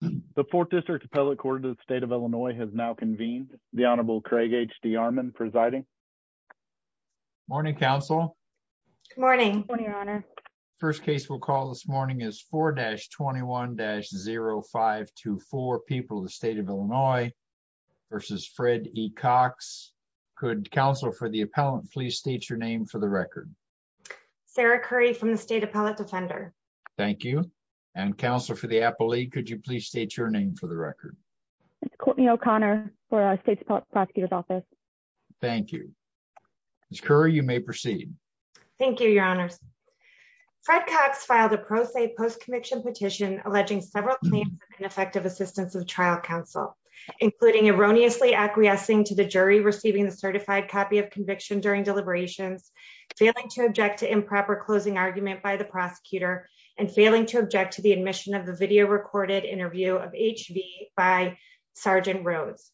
The 4th District Appellate Court of the State of Illinois has now convened. The Honorable Craig H. D. Armon presiding. Morning, counsel. Good morning, your honor. First case we'll call this morning is 4-21-0524, People of the State of Illinois v. Fred E. Cox. Could counsel for the appellant please state your name for the record? Sarah Curry from the State Appellate Defender. Thank you. And counsel for the appellee, could you please state your name for the record? It's Courtney O'Connor for our State's Prosecutor's Office. Thank you. Ms. Curry, you may proceed. Thank you, your honors. Fred Cox filed a pro se post-conviction petition alleging several claims of ineffective assistance of trial counsel, including erroneously acquiescing to the jury receiving the certified copy of conviction during deliberations, failing to object to improper closing argument by the admission of the video recorded interview of H.V. by Sgt. Rhodes.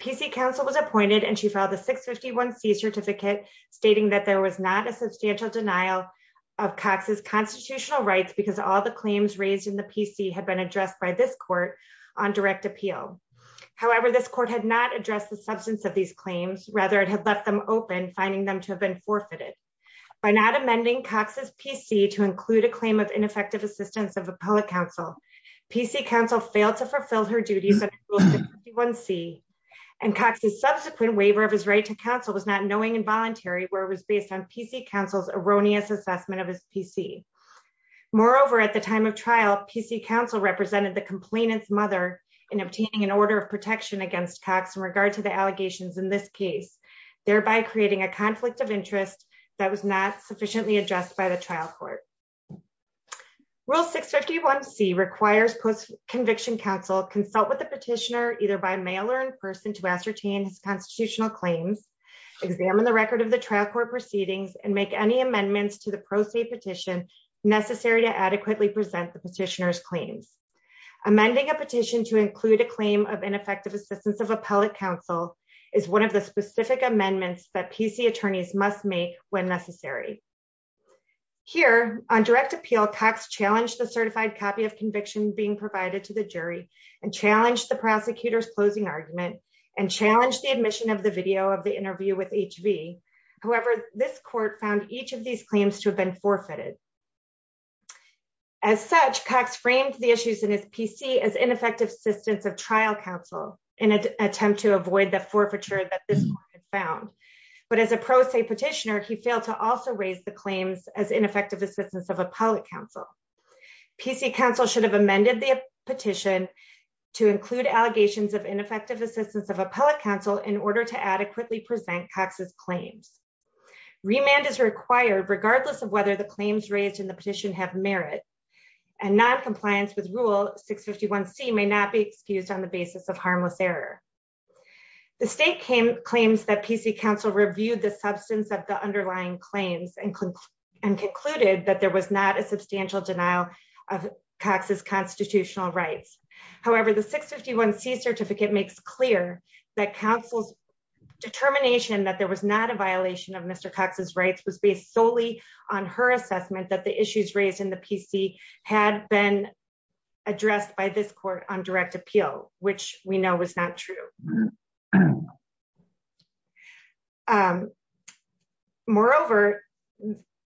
P.C. counsel was appointed and she filed a 651C certificate stating that there was not a substantial denial of Cox's constitutional rights because all the claims raised in the P.C. had been addressed by this court on direct appeal. However, this court had not addressed the substance of these claims. Rather, it had left them open, finding them to have been forfeited. By not amending Cox's P.C. to include a claim of ineffective assistance of appellate counsel, P.C. counsel failed to fulfill her duties under rule 651C, and Cox's subsequent waiver of his right to counsel was not knowing and voluntary, where it was based on P.C. counsel's erroneous assessment of his P.C. Moreover, at the time of trial, P.C. counsel represented the complainant's mother in obtaining an order of protection against Cox in regard to the allegations in this case, thereby creating a conflict of interest that was not sufficiently addressed by the trial court. Rule 651C requires post-conviction counsel consult with the petitioner either by mail or in person to ascertain his constitutional claims, examine the record of the trial court proceedings, and make any amendments to the pro se petition necessary to adequately present the petitioner's claims. Amending a petition to include a claim of ineffective assistance of appellate counsel is one of the specific amendments that P.C. attorneys must make when necessary. Here, on direct appeal, Cox challenged the certified copy of conviction being provided to the jury and challenged the prosecutor's closing argument and challenged the admission of the video of the interview with H.V. However, this court found each of these claims to have been forfeited. As such, Cox framed the issues in his P.C. as ineffective assistance of trial counsel in an attempt to avoid the forfeiture that this court found. But as a pro se petitioner, he failed to also raise the claims as ineffective assistance of appellate counsel. P.C. counsel should have amended the petition to include allegations of ineffective assistance of appellate counsel in order to adequately present Cox's claims. Remand is required regardless of whether the claims raised in the petition have merit. And noncompliance with rule 651c may not be excused on the basis of harmless error. The state claims that P.C. counsel reviewed the substance of the underlying claims and concluded that there was not a substantial denial of Cox's constitutional rights. However, the 651c certificate makes clear that counsel's determination that there was not a violation of Mr. Cox's rights was based solely on her assessment that the issues raised in the P.C. had been addressed by this court on direct appeal, which we know was not true. Moreover,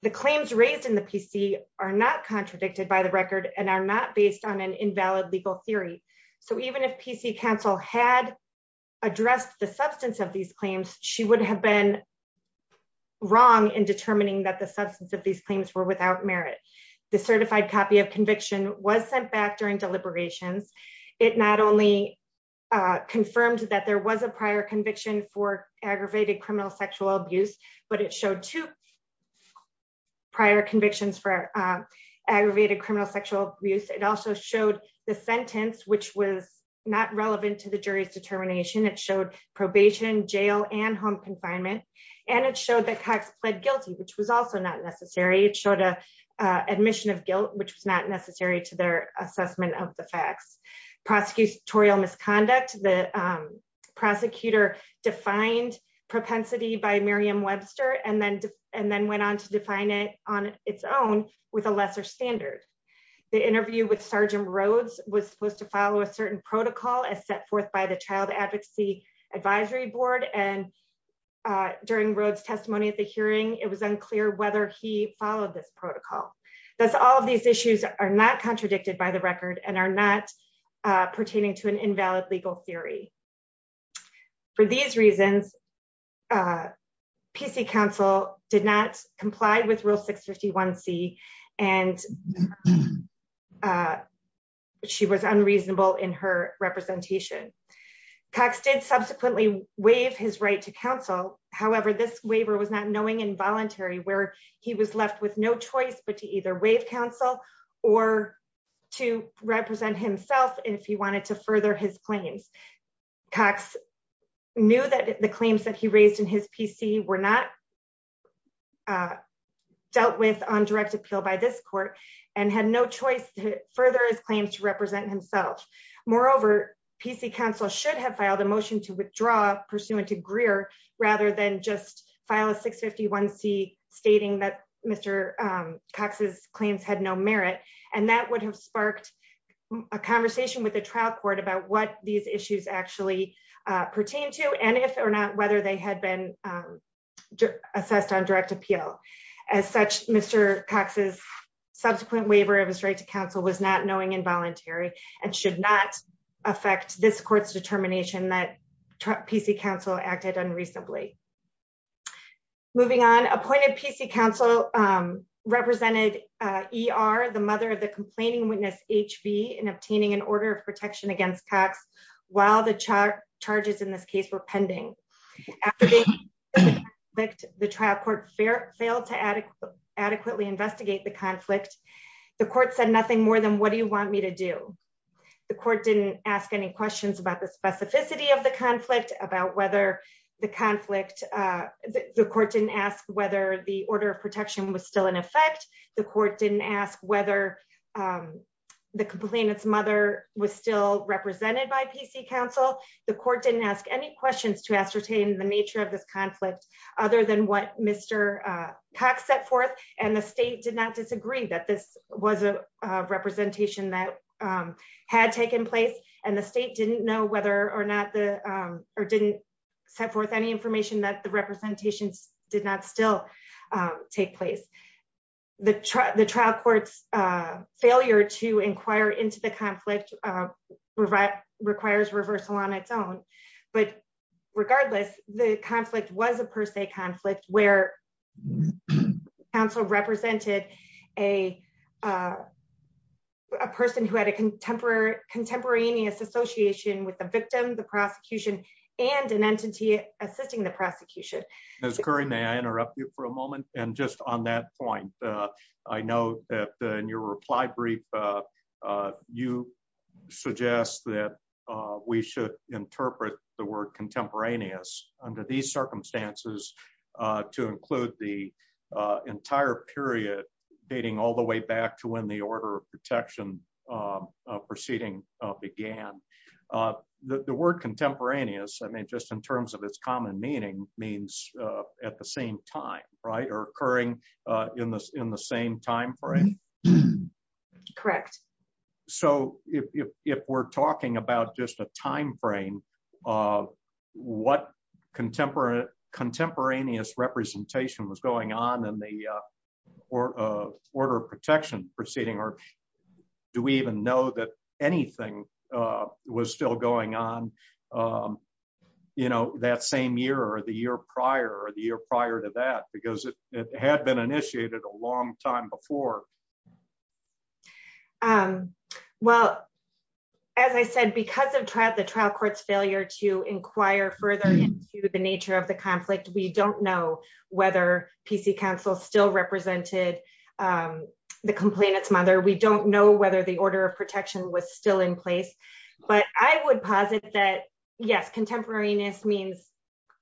the claims raised in the P.C. are not contradicted by the record and are not based on an invalid legal theory. So even if P.C. counsel had addressed the substance of these claims, she would have been wrong in determining that the substance of these claims were without merit. The certified copy of conviction was sent back during deliberations. It not only confirmed that there was a prior conviction for aggravated criminal sexual abuse, but it showed two prior convictions for aggravated criminal sexual abuse. It also showed the sentence, which was not relevant to the jury's determination. It showed probation, jail, and home confinement. And it showed that Cox pled guilty, which was also not necessary. It showed an admission of guilt, which was not necessary to their assessment of the facts. Prosecutorial misconduct. The prosecutor defined propensity by Miriam Webster and then went on to define it on its own with a lesser standard. The interview with Sergeant Rhodes was supposed to follow a certain protocol as set forth by the Child Advocacy Advisory Board. And during Rhodes' testimony at the hearing, it was unclear whether he followed this protocol. Thus, all of these issues are not contradicted by the record and are not pertaining to an invalid legal theory. For these reasons, P.C. counsel did not comply with Rule 651C, and she was unreasonable in her representation. Cox did subsequently waive his right to counsel. However, this waiver was not knowing involuntary where he was left with no choice but to either waive counsel or to represent himself if he wanted to further his claims. Cox knew that the claims that he raised in his P.C. were not dealt with on direct appeal by this court and had no choice to further his claims to represent himself. Moreover, P.C. counsel should have filed a motion to withdraw pursuant to Greer rather than just file a 651C stating that Mr. Cox's claims had no merit. And that would have sparked a conversation with the trial court about what these issues actually pertain to and if or not whether they had been assessed on direct appeal. As such, Mr. Cox's subsequent waiver of his right to counsel was not knowing involuntary and should not affect this court's determination that P.C. counsel acted unreasonably. Moving on, appointed P.C. counsel represented E.R., the mother of the complaining witness, H.V., in obtaining an order of protection against Cox while the charges in this case were pending. After the trial court failed to adequately investigate the conflict, the court said nothing more than, what do you want me to do? The court didn't ask any questions about the specificity of the conflict, about whether the conflict, the court didn't ask whether the order of protection was still in effect. The court didn't ask whether the complainant's mother was still represented by P.C. counsel. The court didn't ask any questions to ascertain the nature of this conflict other than what Cox set forth and the state did not disagree that this was a representation that had taken place and the state didn't know whether or not the, or didn't set forth any information that the representations did not still take place. The trial court's failure to inquire into the conflict requires reversal on its own, but regardless, the conflict was a per se conflict where counsel represented a person who had a contemporaneous association with the victim, the prosecution, and an entity assisting the prosecution. Ms. Curry, may I interrupt you for a moment? And just on that point, I know that in your reply brief, you suggest that we should interpret the word contemporaneous under these circumstances to include the entire period dating all the way back to when the order of protection proceeding began. The word contemporaneous, I mean, just in terms of its common meaning, means at the same time, right? Or occurring in the same time frame. Correct. So, if we're talking about just a time frame of what contemporaneous representation was going on in the order of protection proceeding, or do we even know that anything was still going on, you know, that same year or the year prior or the year prior to that? Because it had been initiated a long time before. Well, as I said, because of the trial court's failure to inquire further into the nature of the conflict, we don't know whether PC counsel still represented the complainant's mother. We don't know whether the order of protection was still in place, but I would posit that yes, contemporaneous means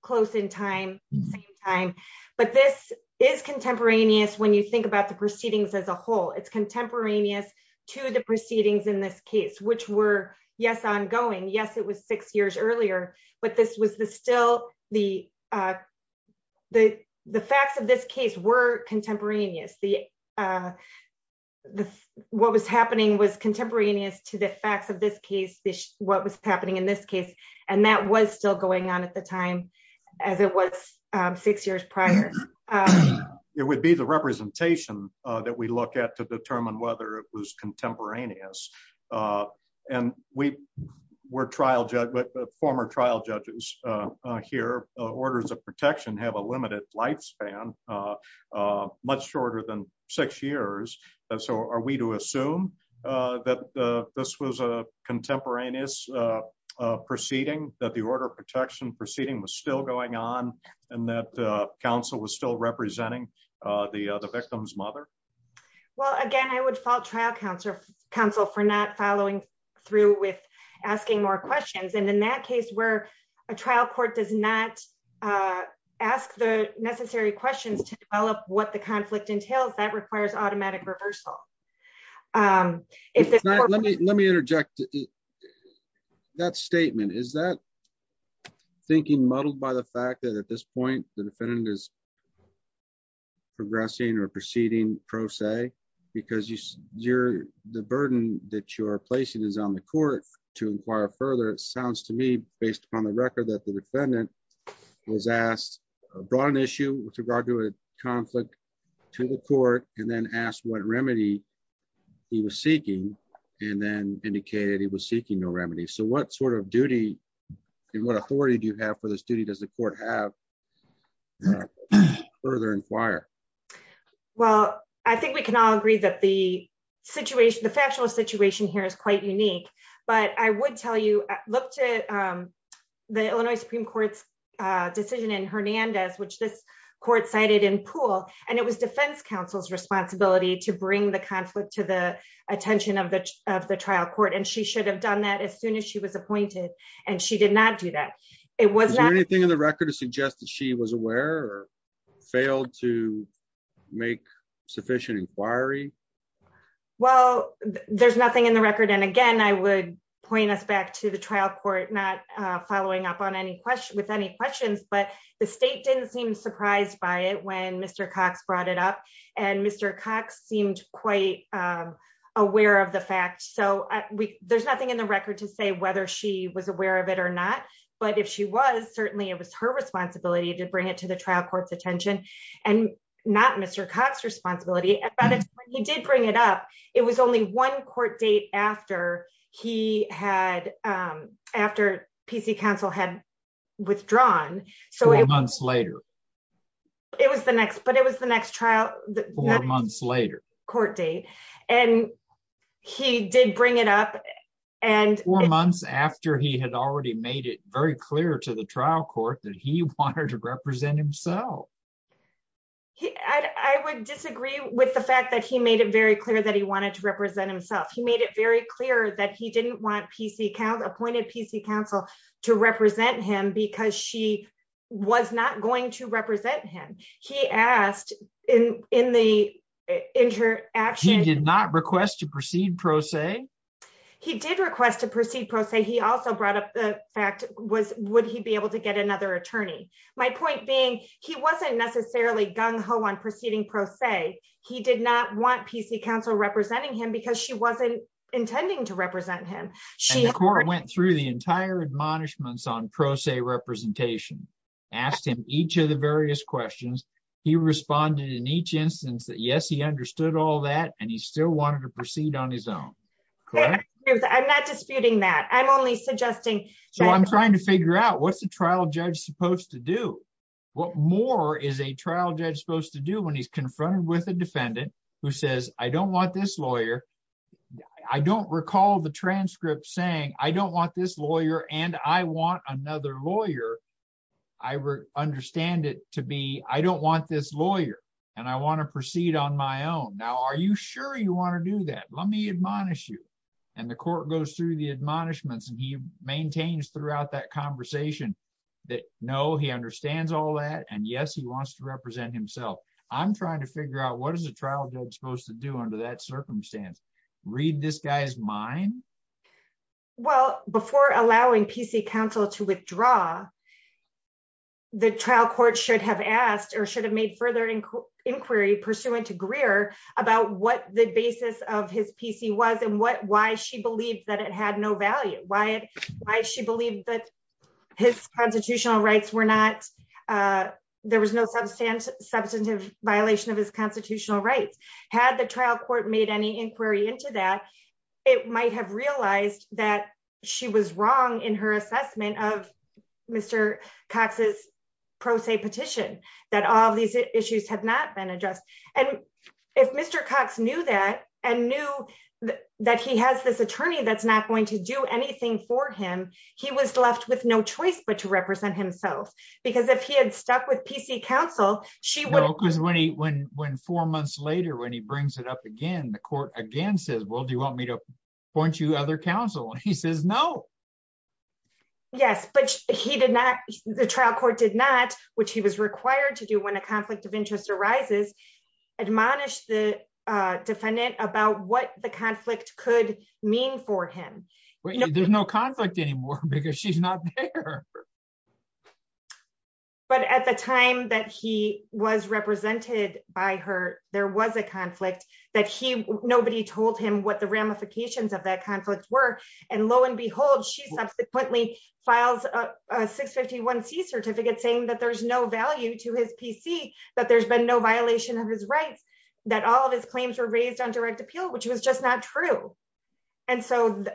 close in time, same time, but this is contemporaneous when you think about the proceedings as a whole. It's contemporaneous to the proceedings in this case, which were, yes, ongoing. Yes, it was six years earlier, but this was still the facts of this case were contemporaneous. What was happening was contemporaneous to the facts of this case, what was happening in this case, and that was still going on at the time as it was six years prior. It would be the representation that we look at to determine whether it was contemporaneous. And we were trial judges, former trial judges here, orders of protection have a limited lifespan, much shorter than six years. So are we to assume that this was a contemporaneous proceeding, that the order of protection proceeding was still going on and that counsel was still representing the victim's mother? Well, again, I would fault trial counsel for not following through with asking more questions. And in that case where a trial court does not ask the necessary questions to develop what the conflict entails, that requires automatic reversal. Let me interject that statement. Is that thinking muddled by the fact that at this point the defendant is progressing or proceeding pro se because the burden that you're placing is on the court to inquire further? It sounds to me based upon the record that the defendant was asked a broad issue with conflict to the court and then asked what remedy he was seeking and then indicated he was seeking no remedy. So what sort of duty and what authority do you have for this duty? Does the court have to further inquire? Well, I think we can all agree that the factual situation here is quite unique, but I would look to the Illinois Supreme Court's decision in Hernandez, which this court cited in Poole. And it was defense counsel's responsibility to bring the conflict to the attention of the trial court. And she should have done that as soon as she was appointed. And she did not do that. Is there anything in the record to suggest that she was aware or failed to make sufficient inquiry? Well, there's nothing in the record. And again, I would point us back to the trial court, not following up with any questions, but the state didn't seem surprised by it when Mr. Cox brought it up. And Mr. Cox seemed quite aware of the fact. So there's nothing in the record to say whether she was aware of it or not. But if she was, certainly it was her responsibility to bring it to the trial court's attention and not Mr. Cox's responsibility. And by the time he did bring it up, it was only one court date after he had, after PC counsel had withdrawn. Four months later. It was the next, but it was the next trial. Four months later. Court date. And he did bring it up. And four months after he had already made it very clear to the trial court that he wanted to represent himself. He, I would disagree with the fact that he made it very clear that he wanted to represent himself. He made it very clear that he didn't want PC counsel, appointed PC counsel to represent him because she was not going to represent him. He asked in the interaction. He did not request to proceed pro se. He did request to proceed pro se. He also brought up the fact was, would he be able to get another attorney? My point being, he wasn't necessarily gung ho on proceeding pro se. He did not want PC counsel representing him because she wasn't intending to represent him. She went through the entire admonishments on pro se representation, asked him each of the various questions. He responded in each instance that yes, he understood all that. And he still wanted to proceed on his own. I'm not disputing that. I'm only suggesting. So I'm trying to figure out what's the trial judge supposed to do? What more is a trial judge supposed to do when he's confronted with a defendant who says, I don't want this lawyer. I don't recall the transcript saying, I don't want this lawyer and I want another lawyer. I understand it to be, I don't want this lawyer and I want to proceed on my own. Now, are you sure you want to do that? Let me admonish you. And the court goes through the admonishments and he maintains throughout that conversation that no, he understands all that. And yes, he wants to represent himself. I'm trying to figure out what is the trial judge supposed to do under that circumstance? Read this guy's mind. Well, before allowing PC counsel to withdraw. The trial court should have asked or should have made further inquiry pursuant to Greer about what the basis of his PC was and why she believed that it had no value. Why she believed that his constitutional rights were not, there was no substantive violation of his constitutional rights. Had the trial court made any inquiry into that, it might have realized that she was wrong in her assessment of Mr. Cox's pro se petition that all of these issues have not been addressed. And if Mr. Cox knew that and knew that he has this attorney that's not going to do anything for him, he was left with no choice but to represent himself. Because if he had stuck with PC counsel, she wouldn't. Because when four months later, when he brings it up again, the court again says, well, do you want me to point you to other counsel? And he says no. Yes, but he did not, the trial court did not, which he was required to do when a conflict of interest arises, admonish the defendant about what the conflict could mean for him. There's no conflict anymore because she's not there. But at the time that he was represented by her, there was a conflict that nobody told him what the ramifications of that conflict were. And lo and behold, she subsequently files a 651C certificate saying that there's no PC, that there's been no violation of his rights, that all of his claims were raised on direct appeal, which was just not true. And so,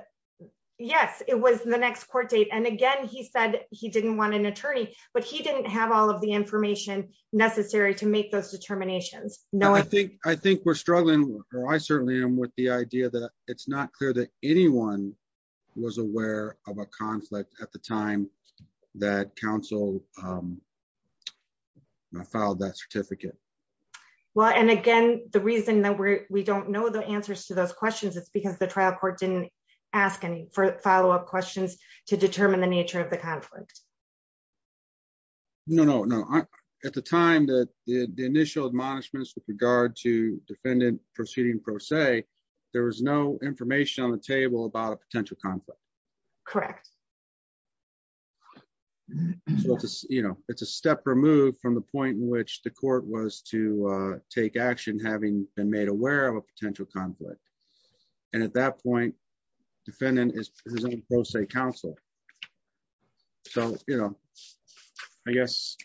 yes, it was the next court date. And again, he said he didn't want an attorney, but he didn't have all of the information necessary to make those determinations. I think we're struggling, or I certainly am, with the idea that it's not clear that anyone was aware of a conflict at the time that counsel filed that certificate. Well, and again, the reason that we don't know the answers to those questions is because the trial court didn't ask any follow-up questions to determine the nature of the conflict. No, no, no. At the time that the initial admonishments with regard to defendant proceeding pro se, there was no information on the table about a potential conflict. Correct. You know, it's a step removed from the point in which the court was to take action having been made aware of a potential conflict. And at that point, defendant is pro se counsel. So, you know, I guess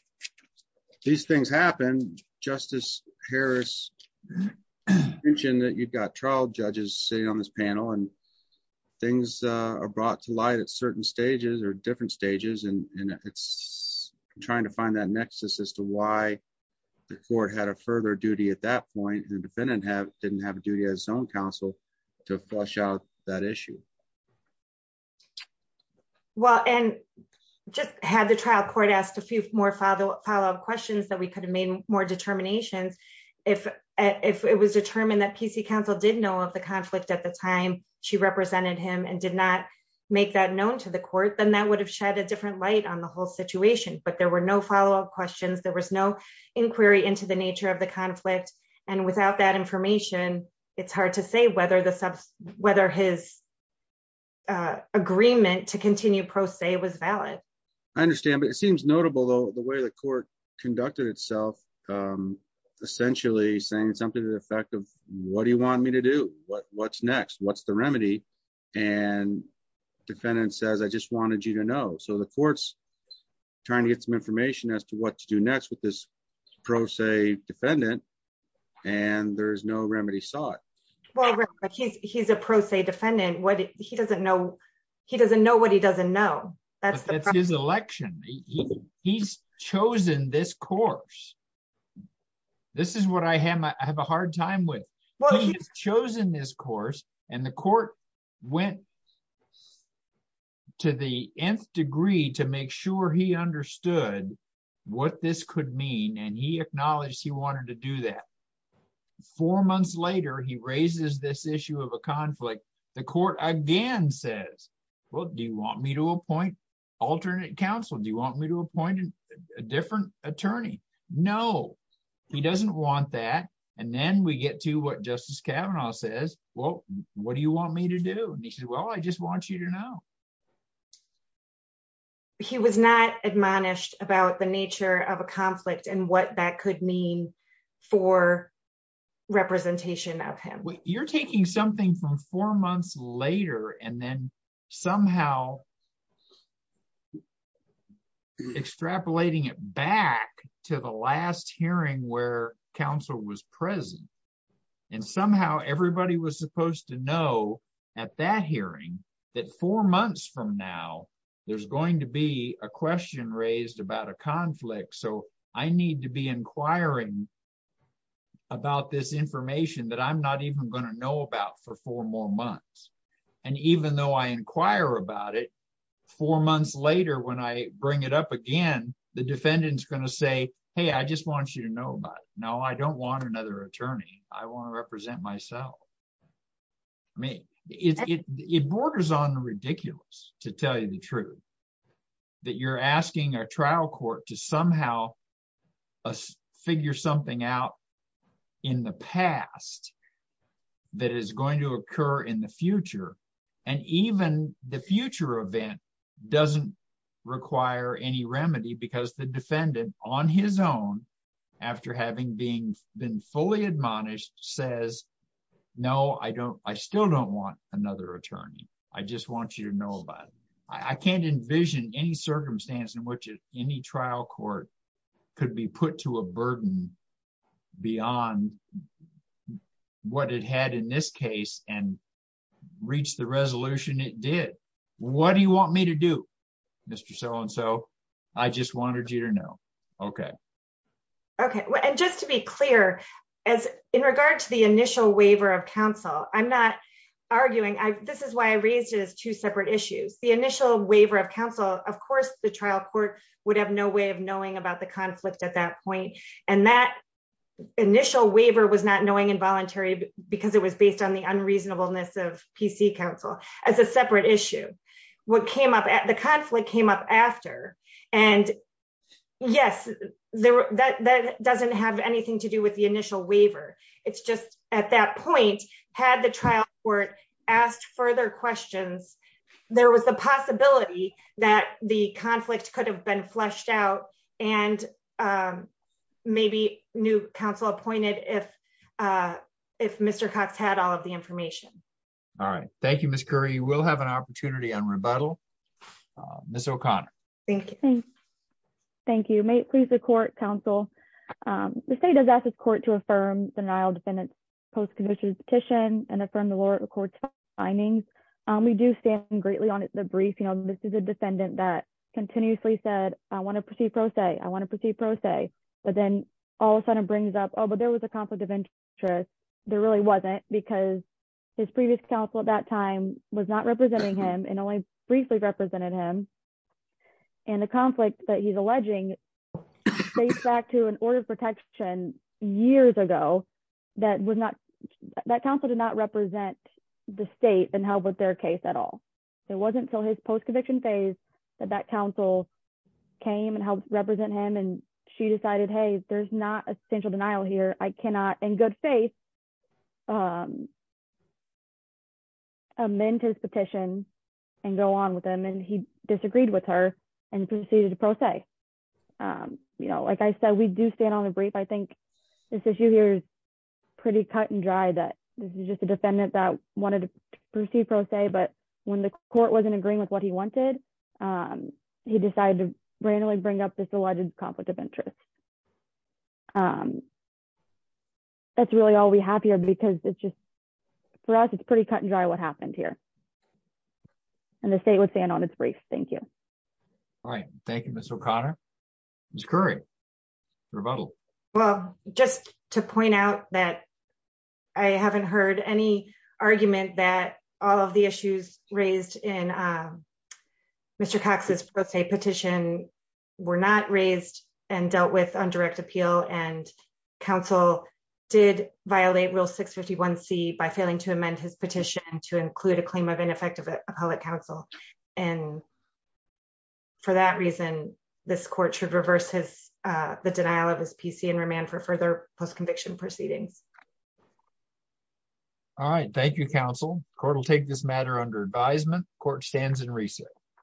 these things happen. Justice Harris mentioned that you've got trial judges sitting on this panel and things are brought to light at certain stages or different stages, and it's trying to find that nexus as to why the court had a further duty at that point and the defendant didn't have a duty as its own counsel to flush out that issue. Well, and just had the trial court asked a few more follow-up questions that we could have made more determinations, if it was determined that PC counsel did know of the conflict at the time she represented him and did not make that known to the court, then that would have shed a different light on the whole situation. But there were no follow-up questions. There was no inquiry into the nature of the conflict. And without that information, it's hard to say whether his agreement to continue pro se was valid. I understand, but it seems notable, though, the way the court conducted itself, essentially saying something to the effect of what do you want me to do? What's next? What's the remedy? And defendant says, I just wanted you to know. So the court's trying to get some information as to what to do next with this pro se defendant. And there is no remedy sought. He's a pro se defendant. He doesn't know. He doesn't know what he doesn't know. It's his election. He's chosen this course. This is what I have a hard time with. Well, he's chosen this course. And the court went to the nth degree to make sure he understood what this could mean. And he acknowledged he wanted to do that. Four months later, he raises this issue of a conflict. The court again says, well, do you want me to appoint alternate counsel? Do you want me to appoint a different attorney? No, he doesn't want that. And then we get to what Justice Kavanaugh says. Well, what do you want me to do? And he said, well, I just want you to know. He was not admonished about the nature of a conflict and what that could mean for representation of him. You're taking something from four months later and then somehow extrapolating it back to the last hearing where counsel was present. And somehow everybody was supposed to know at that hearing that four months from now, there's going to be a question raised about a conflict. So I need to be inquiring about this information that I'm not even going to know about for four more months. And even though I inquire about it, four months later, when I bring it up again, the defendant is going to say, hey, I just want you to know about it. No, I don't want another attorney. I want to represent myself. I mean, it borders on ridiculous, to tell you the truth, that you're asking a trial court to somehow figure something out in the past that is going to occur in the future. And even the future event doesn't require any remedy because the defendant, on his own, after having been fully admonished, says, no, I still don't want another attorney. I just want you to know about it. I can't envision any circumstance in which any trial court could be put to a burden beyond what it had in this case and reach the resolution it did. What do you want me to do, Mr. So-and-so? I just wanted you to know. OK. OK. And just to be clear, in regard to the initial waiver of counsel, I'm not arguing. This is why I raised it as two separate issues. The initial waiver of counsel, of course, the trial court would have no way of knowing about the conflict at that point. And that initial waiver was not knowing involuntary because it was based on the unreasonableness of PC counsel as a separate issue. What came up, the conflict came up after. And yes, that doesn't have anything to do with the initial waiver. It's just at that point, had the trial court asked further questions, there was the possibility that the conflict could have been fleshed out and maybe new counsel appointed if Mr. Cox had all of the information. All right. Thank you, Ms. Curry. You will have an opportunity on rebuttal. Ms. O'Connor. Thank you. Thank you. May it please the court, counsel. The state does ask its court to affirm the Nile defendant's post-conviction petition and affirm the lower court's findings. We do stand greatly on the brief. This is a defendant that continuously said, I want to proceed pro se. I want to proceed pro se. But then all of a sudden brings up, oh, but there was a conflict of interest. There really wasn't because his previous counsel at that time was not representing him and only briefly represented him. And the conflict that he's alleging dates back to an order of protection years ago that counsel did not represent the state and help with their case at all. It wasn't until his post-conviction phase that that counsel came and helped represent him. And she decided, hey, there's not a central denial here. I cannot, in good faith, amend his petition and go on with him. And he disagreed with her and proceeded to pro se. Like I said, we do stand on the brief. I think this issue here is pretty cut and dry that this is just a defendant that wanted to proceed pro se. But when the court wasn't agreeing with what he wanted, he decided to randomly bring up this alleged conflict of interest. That's really all we have here because it's just, for us, it's pretty cut and dry what happened here. And the state would stand on its brief. Thank you. All right. Thank you, Ms. O'Connor. Ms. Currie, rebuttal. Well, just to point out that I haven't heard any argument that all of the issues raised in Mr. Cox's pro se petition were not raised and dealt with on direct appeal. And counsel did violate Rule 651c by failing to amend his petition to include a claim of appellate counsel. And for that reason, this court should reverse the denial of his PC and remand for further post-conviction proceedings. All right. Thank you, counsel. Court will take this matter under advisement. Court stands in recess.